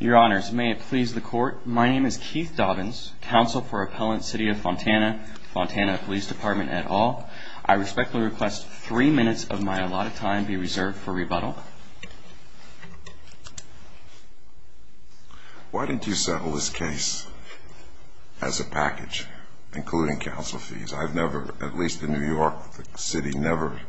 Your honors, may it please the court, my name is Keith Dobbins, counsel for appellant City of Fontana, Fontana Police Department et al. I respectfully request three minutes of my allotted time be reserved for rebuttal. Why didn't you settle this case as a package, including counsel fees? I've never, at least in New York, the city never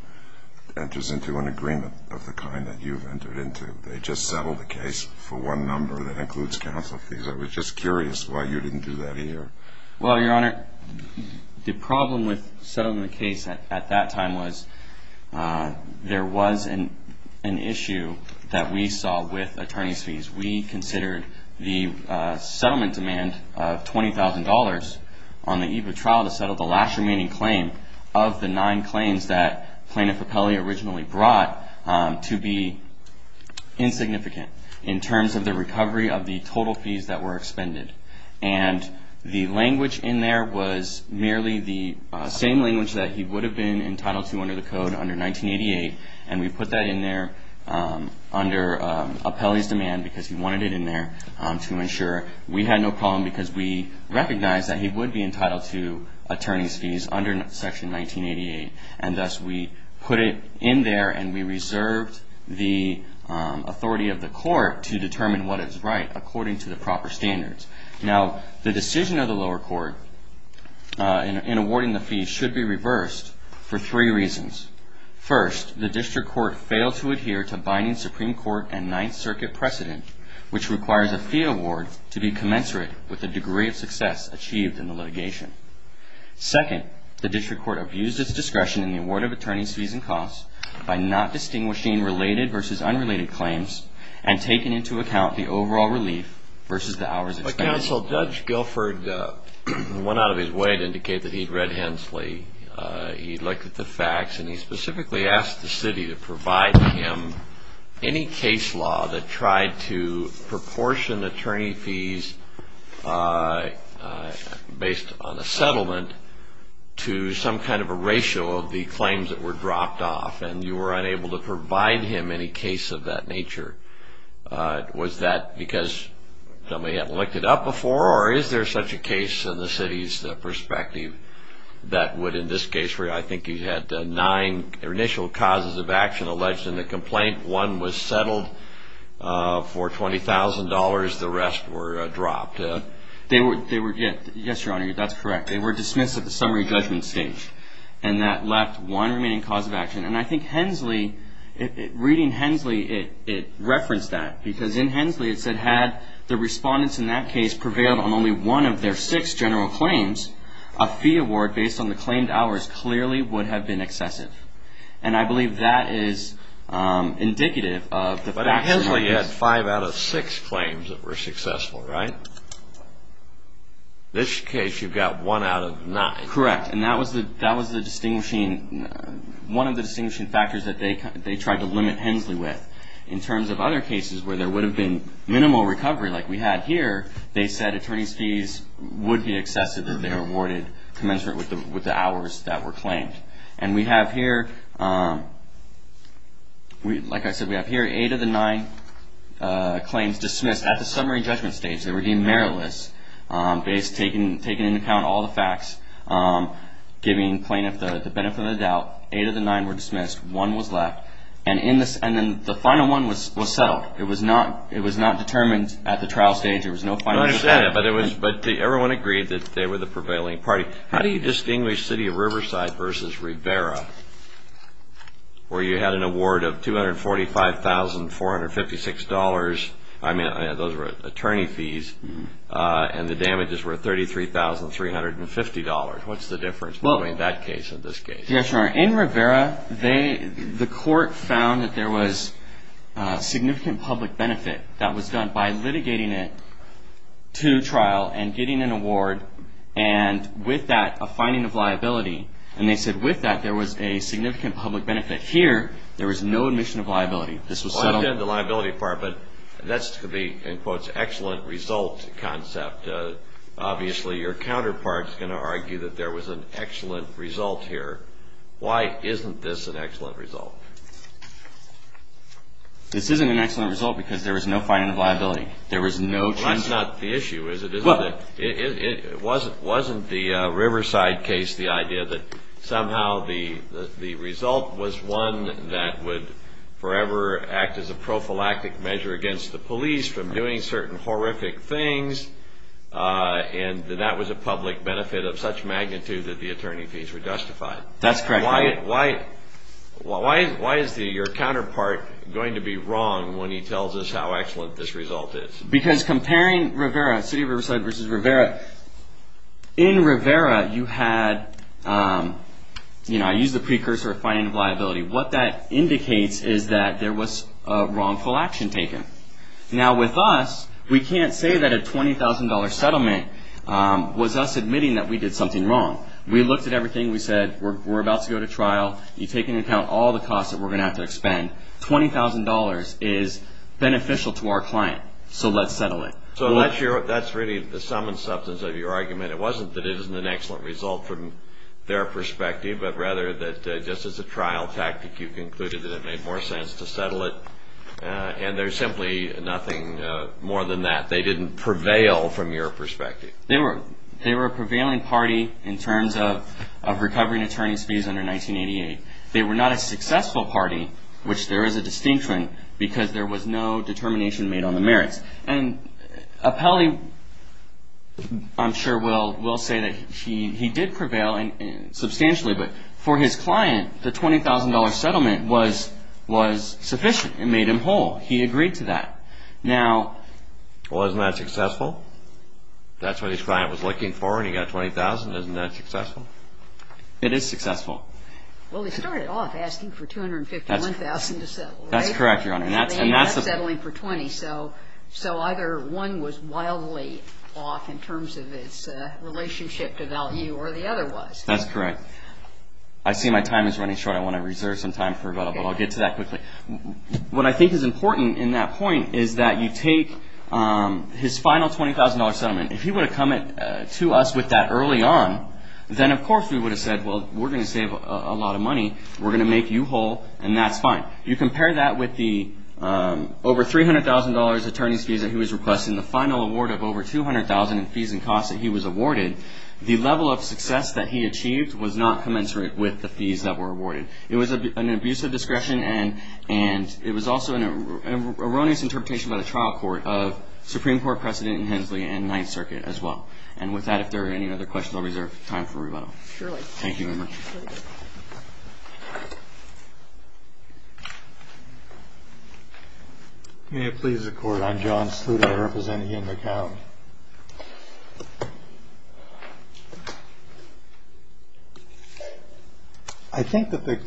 enters into an agreement of the kind that you've entered into. They just settled the case for one number that includes counsel fees. I was just curious why you didn't do that here. Well, Your Honor, the problem with settling the case at that time was there was an issue that we saw with attorney's fees. We considered the settlement demand of $20,000 on the eve of trial to settle the last remaining claim of the nine claims that Plaintiff Apelli originally brought to be insignificant in terms of the recovery of the total fees that were expended. And the language in there was merely the same language that he would have been entitled to under the code under 1988. And we put that in there under Apelli's demand because he wanted it in there to ensure we had no problem because we recognized that he would be entitled to attorney's fees under Section 1988. And thus, we put it in there and we reserved the authority of the court to determine what is right according to the proper standards. Now, the decision of the lower court in awarding the fees should be reversed for three reasons. First, the district court failed to adhere to binding Supreme Court and Ninth Circuit precedent, which requires a fee award to be commensurate with the degree of success achieved in the litigation. Second, the district court abused its discretion in the award of attorney's fees and costs by not distinguishing related versus unrelated claims and taking into account the overall relief versus the hours expended. But, counsel, Judge Guilford went out of his way to indicate that he'd read Hensley. He looked at the facts and he specifically asked the city to provide him any case law that tried to proportion attorney fees based on a settlement to some kind of a ratio of the claims that were dropped off. And you were unable to provide him any case of that nature. Was that because somebody hadn't looked it up before? Or is there such a case in the city's perspective that would, in this case, I think you had nine initial causes of action alleged in the complaint. One was settled for $20,000. The rest were dropped. Yes, Your Honor, that's correct. They were dismissed at the summary judgment stage. And that left one remaining cause of action. And I think Hensley, reading Hensley, it referenced that because in Hensley it said, had the respondents in that case prevailed on only one of their six general claims, a fee award based on the claimed hours clearly would have been excessive. And I believe that is indicative of the fact that... But Hensley had five out of six claims that were successful, right? This case you've got one out of nine. Correct. And that was the distinguishing, one of the distinguishing factors that they tried to limit Hensley with. In terms of other cases where there would have been minimal recovery like we had here, they said attorney's fees would be excessive if they were awarded commensurate with the hours that were claimed. And we have here, like I said, we have here eight of the nine claims dismissed at the summary judgment stage. They were deemed meritless based, taking into account all the facts, giving plaintiff the benefit of the doubt. Eight of the nine were dismissed. One was left. And then the final one was settled. It was not determined at the trial stage. There was no final decision. But everyone agreed that they were the prevailing party. How do you distinguish City of Riverside versus Rivera, where you had an award of $245,456? I mean, those were attorney fees. And the damages were $33,350. What's the difference between that case and this case? Your Honor, in Rivera, the court found that there was significant public benefit that was done by litigating it to trial and getting an award, and with that, a finding of liability. And they said with that, there was a significant public benefit. Here, there was no admission of liability. This was settled. Well, I've done the liability part, but that's to be, in quotes, an excellent result concept. Obviously, your counterpart is going to argue that there was an excellent result here. Why isn't this an excellent result? This isn't an excellent result because there was no finding of liability. There was no change. Well, that's not the issue, is it? Well. Wasn't the Riverside case the idea that somehow the result was one that would forever act as a prophylactic measure against the police from doing certain horrific things, and that that was a public benefit of such magnitude that the attorney fees were justified? That's correct, Your Honor. Why is your counterpart going to be wrong when he tells us how excellent this result is? Because comparing Rivera, city of Riverside versus Rivera, in Rivera, you had, you know, I used the precursor of finding of liability. What that indicates is that there was a wrongful action taken. Now, with us, we can't say that a $20,000 settlement was us admitting that we did something wrong. We looked at everything. We said, we're about to go to trial. You take into account all the costs that we're going to have to expend. $20,000 is beneficial to our client, so let's settle it. So that's really the sum and substance of your argument. It wasn't that it isn't an excellent result from their perspective, but rather that just as a trial tactic, you concluded that it made more sense to settle it. And there's simply nothing more than that. They didn't prevail from your perspective. They were a prevailing party in terms of recovering attorney's fees under 1988. They were not a successful party, which there is a distinction, because there was no determination made on the merits. And Appelli, I'm sure, will say that he did prevail substantially, but for his client, the $20,000 settlement was sufficient. It made him whole. He agreed to that. Now — Well, isn't that successful? That's what his client was looking for, and he got $20,000. Isn't that successful? It is successful. Well, they started off asking for $251,000 to settle, right? That's correct, Your Honor. They ended up settling for $20,000, so either one was wildly off in terms of its relationship to value, or the other was. That's correct. I see my time is running short. I want to reserve some time for that, but I'll get to that quickly. What I think is important in that point is that you take his final $20,000 settlement. If he would have come to us with that early on, then of course we would have said, well, we're going to save a lot of money. We're going to make you whole, and that's fine. Now, you compare that with the over $300,000 attorney's fees that he was requesting, the final award of over $200,000 in fees and costs that he was awarded. The level of success that he achieved was not commensurate with the fees that were awarded. It was an abuse of discretion, and it was also an erroneous interpretation by the trial court of Supreme Court precedent in Hensley and Ninth Circuit as well. And with that, if there are any other questions, I'll reserve time for rebuttal. Surely. Thank you very much. May it please the Court. I'm John Sluder. I represent Ian McCown. I think that the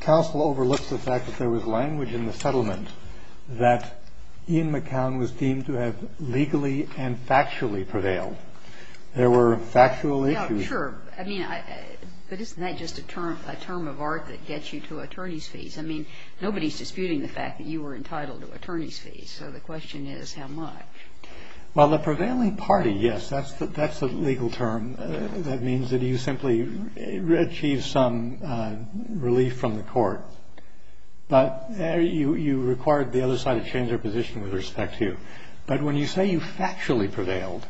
counsel overlooks the fact that there was language in the settlement that Ian McCown was deemed to have legally and factually prevailed. There were factual issues. Yeah, sure. I mean, but isn't that just a term of art that gets you to attorney's fees? I mean, nobody is disputing the fact that you were entitled to attorney's fees. So the question is how much. Well, the prevailing party, yes, that's the legal term. That means that you simply achieved some relief from the court. But you required the other side to change their position with respect to you. But when you say you factually prevailed,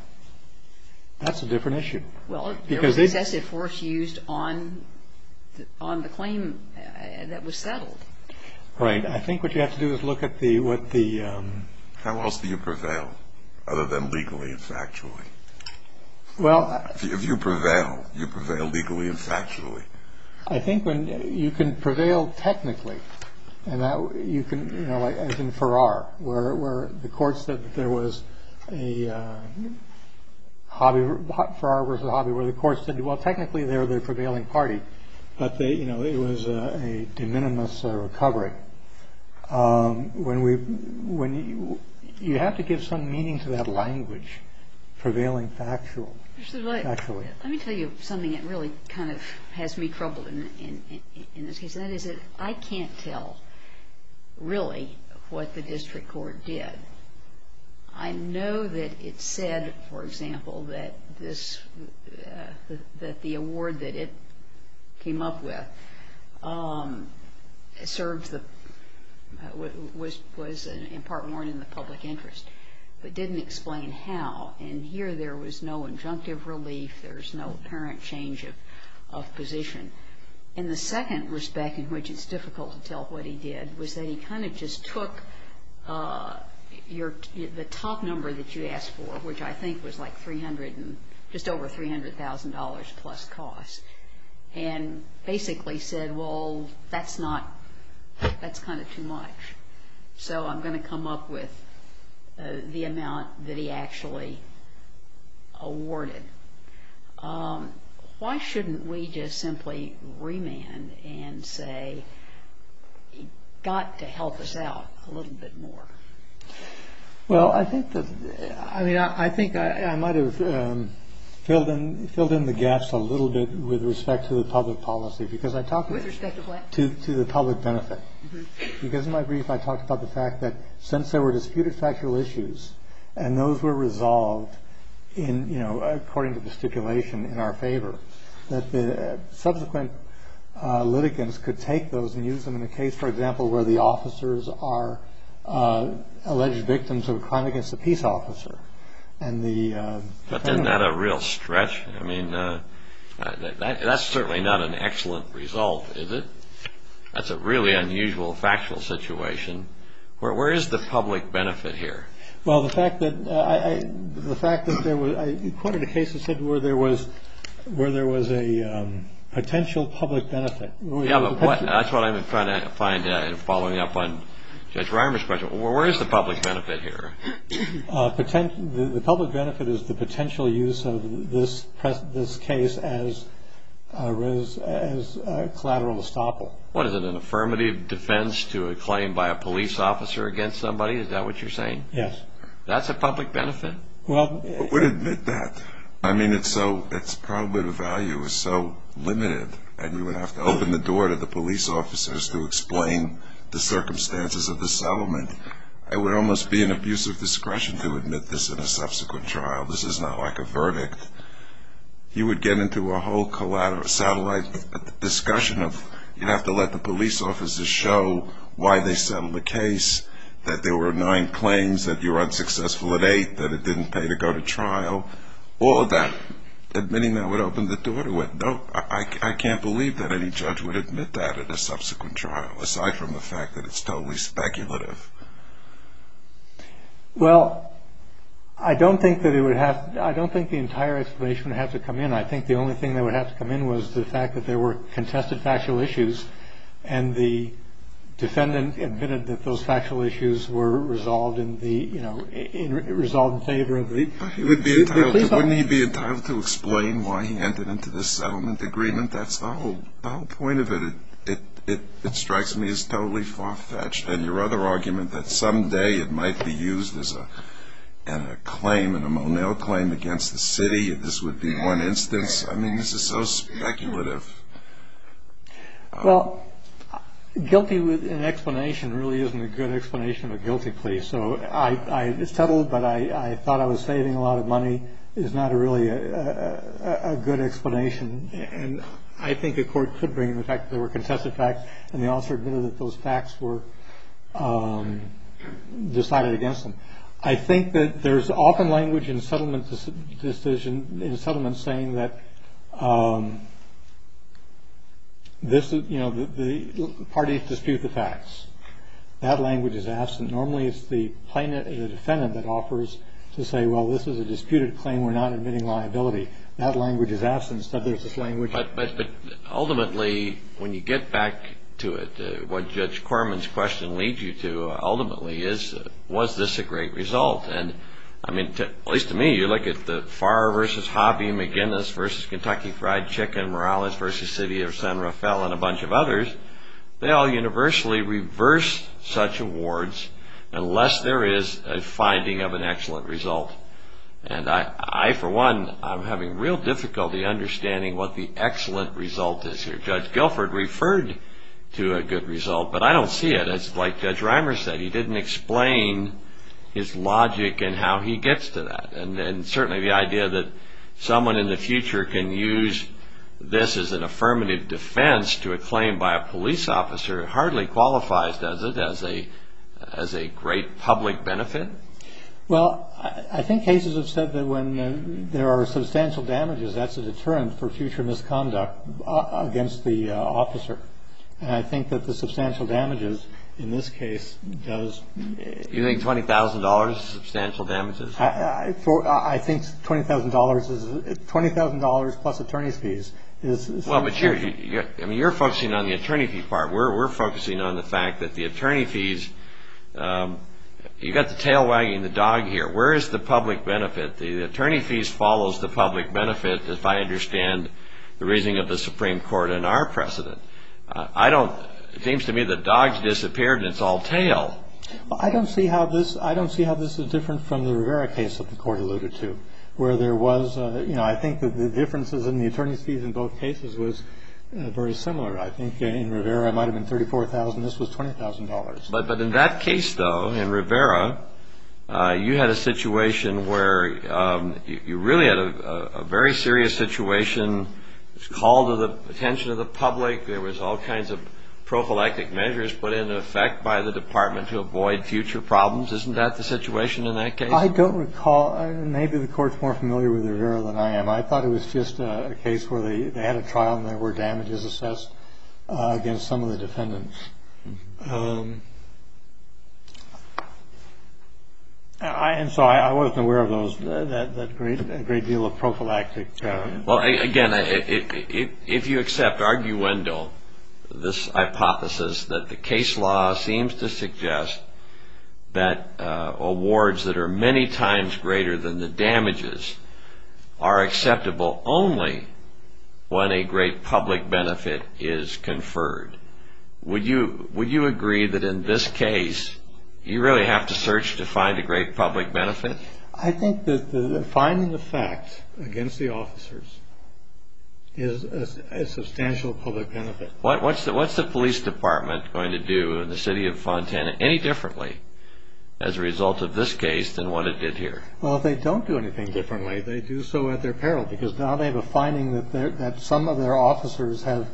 that's a different issue. Well, there was excessive force used on the claim that was settled. Right. I think what you have to do is look at the what the... How else do you prevail other than legally and factually? Well... If you prevail, you prevail legally and factually. I think when you can prevail technically, and that you can, you know, as in Farrar, where the courts said that there was a hobby. Farrar was a hobby where the courts said, well, technically, they're the prevailing party. But, you know, it was a de minimis recovery. When we... You have to give some meaning to that language, prevailing factual. Actually. Let me tell you something that really kind of has me troubled in this case, and that is that I can't tell really what the district court did. I know that it said, for example, that this... that the award that it came up with served the... was in part more in the public interest, but didn't explain how. And here there was no injunctive relief. There's no apparent change of position. And the second respect in which it's difficult to tell what he did was that he kind of just took your... the top number that you asked for, which I think was like 300 and... just over $300,000 plus cost, and basically said, well, that's not... that's kind of too much. So I'm going to come up with the amount that he actually awarded. Why shouldn't we just simply remand and say he got to help us out a little bit more? Well, I think that... I mean, I think I might have filled in the gaps a little bit with respect to the public policy. Because I talked... With respect to what? To the public benefit. Because in my brief I talked about the fact that since there were disputed factual issues... And those were resolved in, you know, according to the stipulation in our favor. That subsequent litigants could take those and use them in a case, for example... where the officers are alleged victims of a crime against a peace officer. And the... But isn't that a real stretch? I mean, that's certainly not an excellent result, is it? That's a really unusual factual situation. Where is the public benefit here? Well, the fact that there was... You quoted a case that said where there was a potential public benefit. Yeah, but that's what I'm trying to find in following up on Judge Reimer's question. Where is the public benefit here? The public benefit is the potential use of this case as collateral estoppel. What is it, an affirmative defense to a claim by a police officer against somebody? Is that what you're saying? Yes. That's a public benefit? Well... Who would admit that? I mean, it's so... It's probably the value is so limited. And you would have to open the door to the police officers to explain the circumstances of the settlement. It would almost be an abuse of discretion to admit this in a subsequent trial. This is not like a verdict. You would get into a whole collateral... satellite discussion of... You'd have to let the police officers show why they settled the case. That there were nine claims, that you were unsuccessful at eight, that it didn't pay to go to trial. All of that, admitting that would open the door to it. No, I can't believe that any judge would admit that in a subsequent trial, aside from the fact that it's totally speculative. Well, I don't think that it would have... I don't think the entire explanation would have to come in. I think the only thing that would have to come in was the fact that there were contested factual issues and the defendant admitted that those factual issues were resolved in favor of the police officers. Wouldn't he be entitled to explain why he entered into this settlement agreement? That's the whole point of it. It strikes me as totally far-fetched. And your other argument that someday it might be used as a claim, in a Monell claim against the city, if this would be one instance, I mean, this is so speculative. Well, guilty with an explanation really isn't a good explanation of a guilty plea. So I settled, but I thought I was saving a lot of money is not really a good explanation. And I think a court could bring in the fact that there were contested facts and the officer admitted that those facts were decided against them. I think that there's often language in settlements saying that the parties dispute the facts. That language is absent. Normally, it's the defendant that offers to say, well, this is a disputed claim. We're not admitting liability. That language is absent. Instead, there's this language. But ultimately, when you get back to it, what Judge Corman's question leads you to ultimately is, was this a great result? And I mean, at least to me, you look at the Farr v. Hobby, McGinnis v. Kentucky Fried Chicken, Morales v. City of San Rafael, and a bunch of others, they all universally reverse such awards unless there is a finding of an excellent result. And I, for one, I'm having real difficulty understanding what the excellent result is here. Judge Guilford referred to a good result, but I don't see it. It's like Judge Reimer said. He didn't explain his logic and how he gets to that. And certainly the idea that someone in the future can use this as an affirmative defense to a claim by a police officer hardly qualifies, does it, as a great public benefit? Well, I think cases have said that when there are substantial damages, that's a deterrent for future misconduct against the officer. And I think that the substantial damages in this case does. You think $20,000 is substantial damages? I think $20,000 plus attorney's fees is substantial. Well, but you're focusing on the attorney fee part. We're focusing on the fact that the attorney fees, you've got the tail wagging the dog here. Where is the public benefit? The attorney fees follows the public benefit, if I understand the reasoning of the Supreme Court in our precedent. I don't, it seems to me the dog's disappeared and it's all tail. Well, I don't see how this, I don't see how this is different from the Rivera case that the court alluded to, where there was, you know, I think that the differences in the attorney's fees in both cases was very similar. I think in Rivera it might have been $34,000. This was $20,000. But in that case, though, in Rivera, you had a situation where you really had a very serious situation. There was a call to the attention of the public. There was all kinds of prophylactic measures put into effect by the department to avoid future problems. Isn't that the situation in that case? I don't recall. Maybe the court's more familiar with Rivera than I am. I thought it was just a case where they had a trial and there were damages assessed against some of the defendants. And so I wasn't aware of those, that great deal of prophylactic. Well, again, if you accept arguendo this hypothesis that the case law seems to suggest that awards that are many times greater than the damages are acceptable only when a great public benefit is conferred, would you agree that in this case you really have to search to find a great public benefit? I think that finding the fact against the officers is a substantial public benefit. What's the police department going to do in the city of Fontana any differently as a result of this case than what it did here? Well, they don't do anything differently. They do so at their peril because now they have a finding that some of their officers have,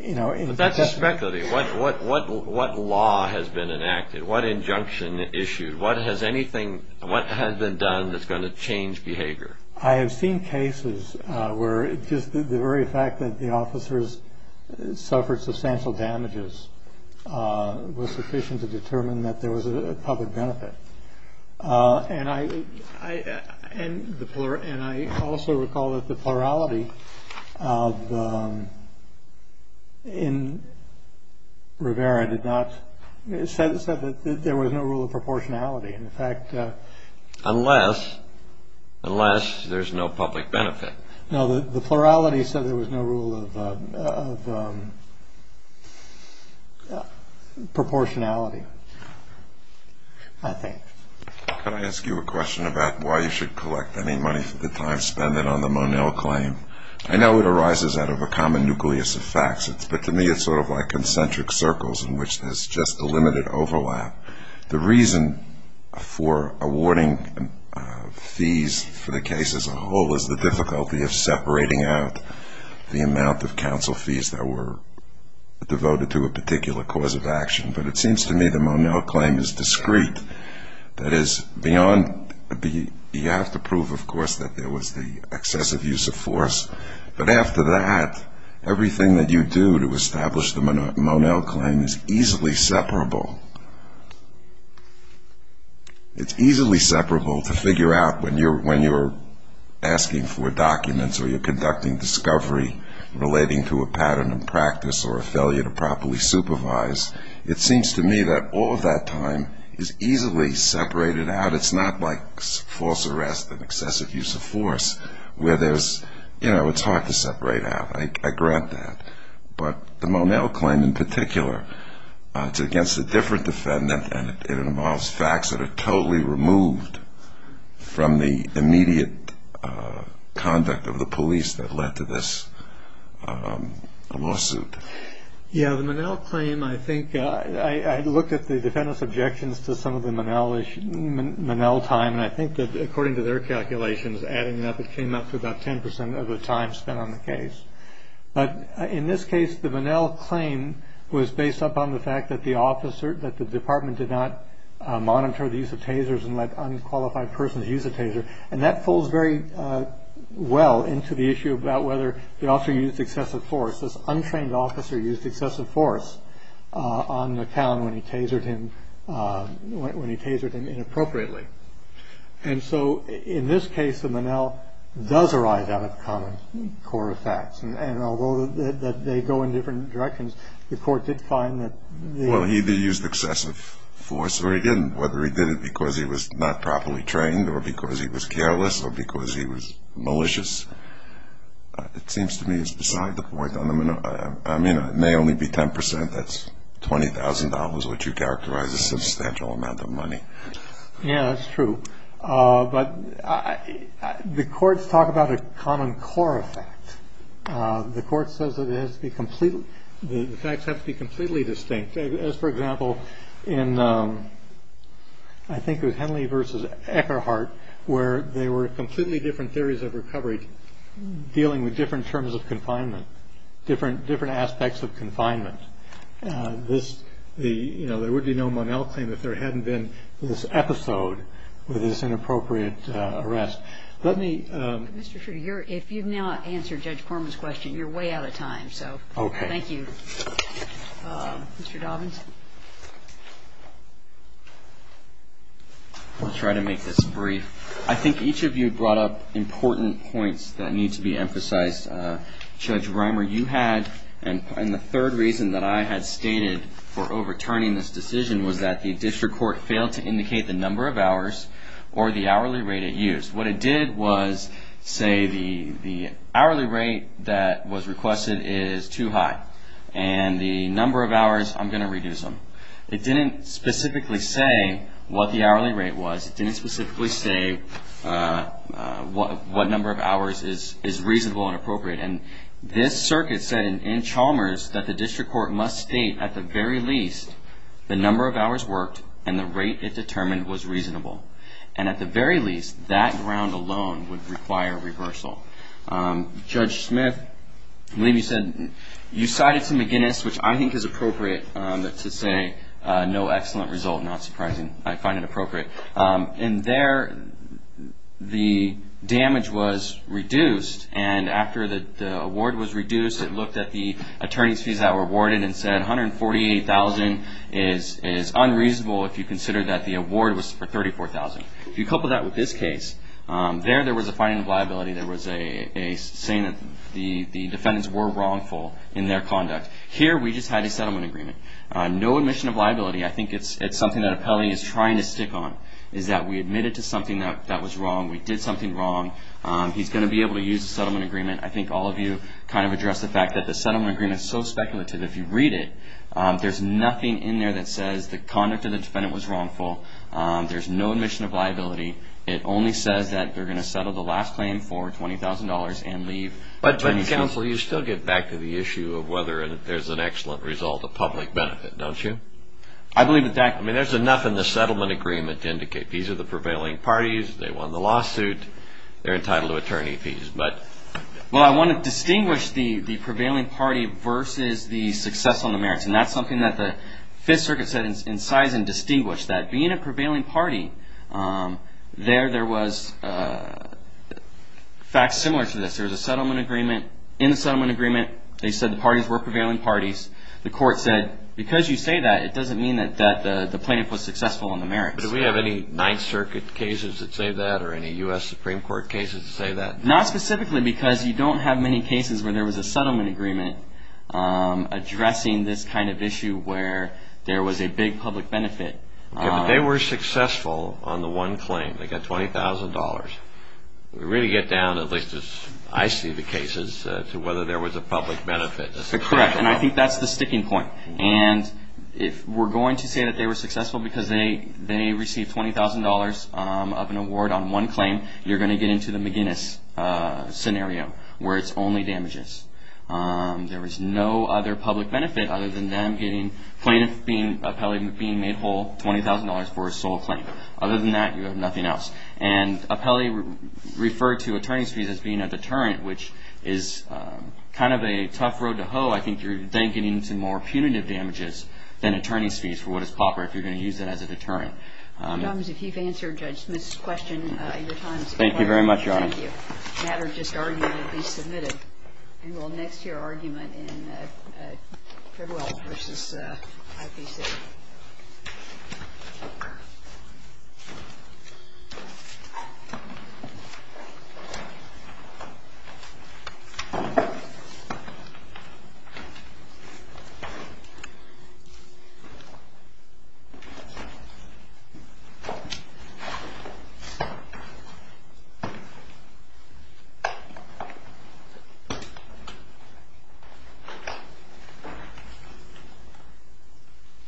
you know, But that's a speculative. What law has been enacted? What injunction issued? What has anything been done that's going to change behavior? I have seen cases where just the very fact that the officers suffered substantial damages was sufficient to determine that there was a public benefit. And I also recall that the plurality in Rivera said that there was no rule of proportionality. In fact, unless there's no public benefit. No, the plurality said there was no rule of proportionality, I think. Can I ask you a question about why you should collect any money for the time spent on the Monell claim? I know it arises out of a common nucleus of facts, but to me it's sort of like concentric circles in which there's just a limited overlap. The reason for awarding fees for the case as a whole is the difficulty of separating out the amount of counsel fees that were devoted to a particular cause of action. But it seems to me the Monell claim is discreet. That is, you have to prove, of course, that there was the excessive use of force. But after that, everything that you do to establish the Monell claim is easily separable. It's easily separable to figure out when you're asking for documents or you're conducting discovery relating to a pattern of practice or a failure to properly supervise. It seems to me that all of that time is easily separated out. But it's not like false arrest and excessive use of force where it's hard to separate out. I grant that. But the Monell claim in particular, it's against a different defendant, and it involves facts that are totally removed from the immediate conduct of the police that led to this lawsuit. Yeah. The Monell claim, I think I looked at the defendant's objections to some of the Monell Monell time. And I think that according to their calculations, adding up, it came up to about 10 percent of the time spent on the case. But in this case, the Monell claim was based up on the fact that the officer that the department did not monitor the use of tasers and let unqualified persons use a taser. And that falls very well into the issue about whether the officer used excessive force. This untrained officer used excessive force on the town when he tasered him, when he tasered him inappropriately. And so in this case, the Monell does arise out of common core facts. And although they go in different directions, the court did find that. Well, he either used excessive force or he didn't. Whether he did it because he was not properly trained or because he was careless or because he was malicious, it seems to me is beside the point. I mean, it may only be 10 percent. That's $20,000, which you characterize as a substantial amount of money. Yeah, that's true. But the courts talk about a common core effect. The court says that it has to be completely the facts have to be completely distinct. As, for example, in I think it was Henley v. Eckerhart where they were completely different theories of recovery dealing with different terms of confinement, different aspects of confinement. This the you know, there would be no Monell claim if there hadn't been this episode with this inappropriate arrest. Let me. Mr. Trudeau, if you've now answered Judge Corman's question, you're way out of time. So thank you. Mr. Dobbins. I'll try to make this brief. I think each of you brought up important points that need to be emphasized. Judge Reimer, you had and the third reason that I had stated for overturning this decision was that the district court failed to indicate the number of hours or the hourly rate it used. What it did was say the hourly rate that was requested is too high and the number of hours I'm going to reduce them. It didn't specifically say what the hourly rate was. It didn't specifically say what number of hours is reasonable and appropriate. And this circuit said in Chalmers that the district court must state at the very least the number of hours worked and the rate it determined was reasonable. And at the very least, that ground alone would require reversal. Judge Smith, I believe you said you cited to McGinnis, which I think is appropriate to say no excellent result. Not surprising. I find it appropriate. And there the damage was reduced. And after the award was reduced, it looked at the attorney's fees that were awarded and said $148,000 is unreasonable if you consider that the award was for $34,000. If you couple that with this case, there, there was a finding of liability. There was a saying that the defendants were wrongful in their conduct. Here, we just had a settlement agreement. No admission of liability. I think it's something that a penalty is trying to stick on is that we admitted to something that was wrong. We did something wrong. He's going to be able to use the settlement agreement. I think all of you kind of addressed the fact that the settlement agreement is so speculative. If you read it, there's nothing in there that says the conduct of the defendant was wrongful. There's no admission of liability. It only says that they're going to settle the last claim for $20,000 and leave attorney's fees. But, counsel, you still get back to the issue of whether there's an excellent result of public benefit, don't you? I believe that that. I mean, there's enough in the settlement agreement to indicate these are the prevailing parties. They won the lawsuit. They're entitled to attorney fees. Well, I want to distinguish the prevailing party versus the success on the merits, and that's something that the Fifth Circuit said incised and distinguished, that being a prevailing party, there was facts similar to this. There was a settlement agreement. In the settlement agreement, they said the parties were prevailing parties. The court said, because you say that, it doesn't mean that the plaintiff was successful on the merits. Do we have any Ninth Circuit cases that say that or any U.S. Supreme Court cases that say that? Not specifically because you don't have many cases where there was a settlement agreement addressing this kind of issue where there was a big public benefit. Okay, but they were successful on the one claim. They got $20,000. We really get down, at least as I see the cases, to whether there was a public benefit. Correct, and I think that's the sticking point. And if we're going to say that they were successful because they received $20,000 of an award on one claim, you're going to get into the McGinnis scenario where it's only damages. There was no other public benefit other than them getting plaintiff being made whole $20,000 for a sole claim. Other than that, you have nothing else. And appellee referred to attorney's fees as being a deterrent, which is kind of a tough road to hoe. I think you're then getting into more punitive damages than attorney's fees for what is proper if you're going to use that as a deterrent. Mr. Thomas, if you've answered Judge Smith's question, your time is up. Thank you very much, Your Honor. Thank you. The matter just argued to be submitted. And we'll next hear argument in Fairwell v. IPC. Thank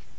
you.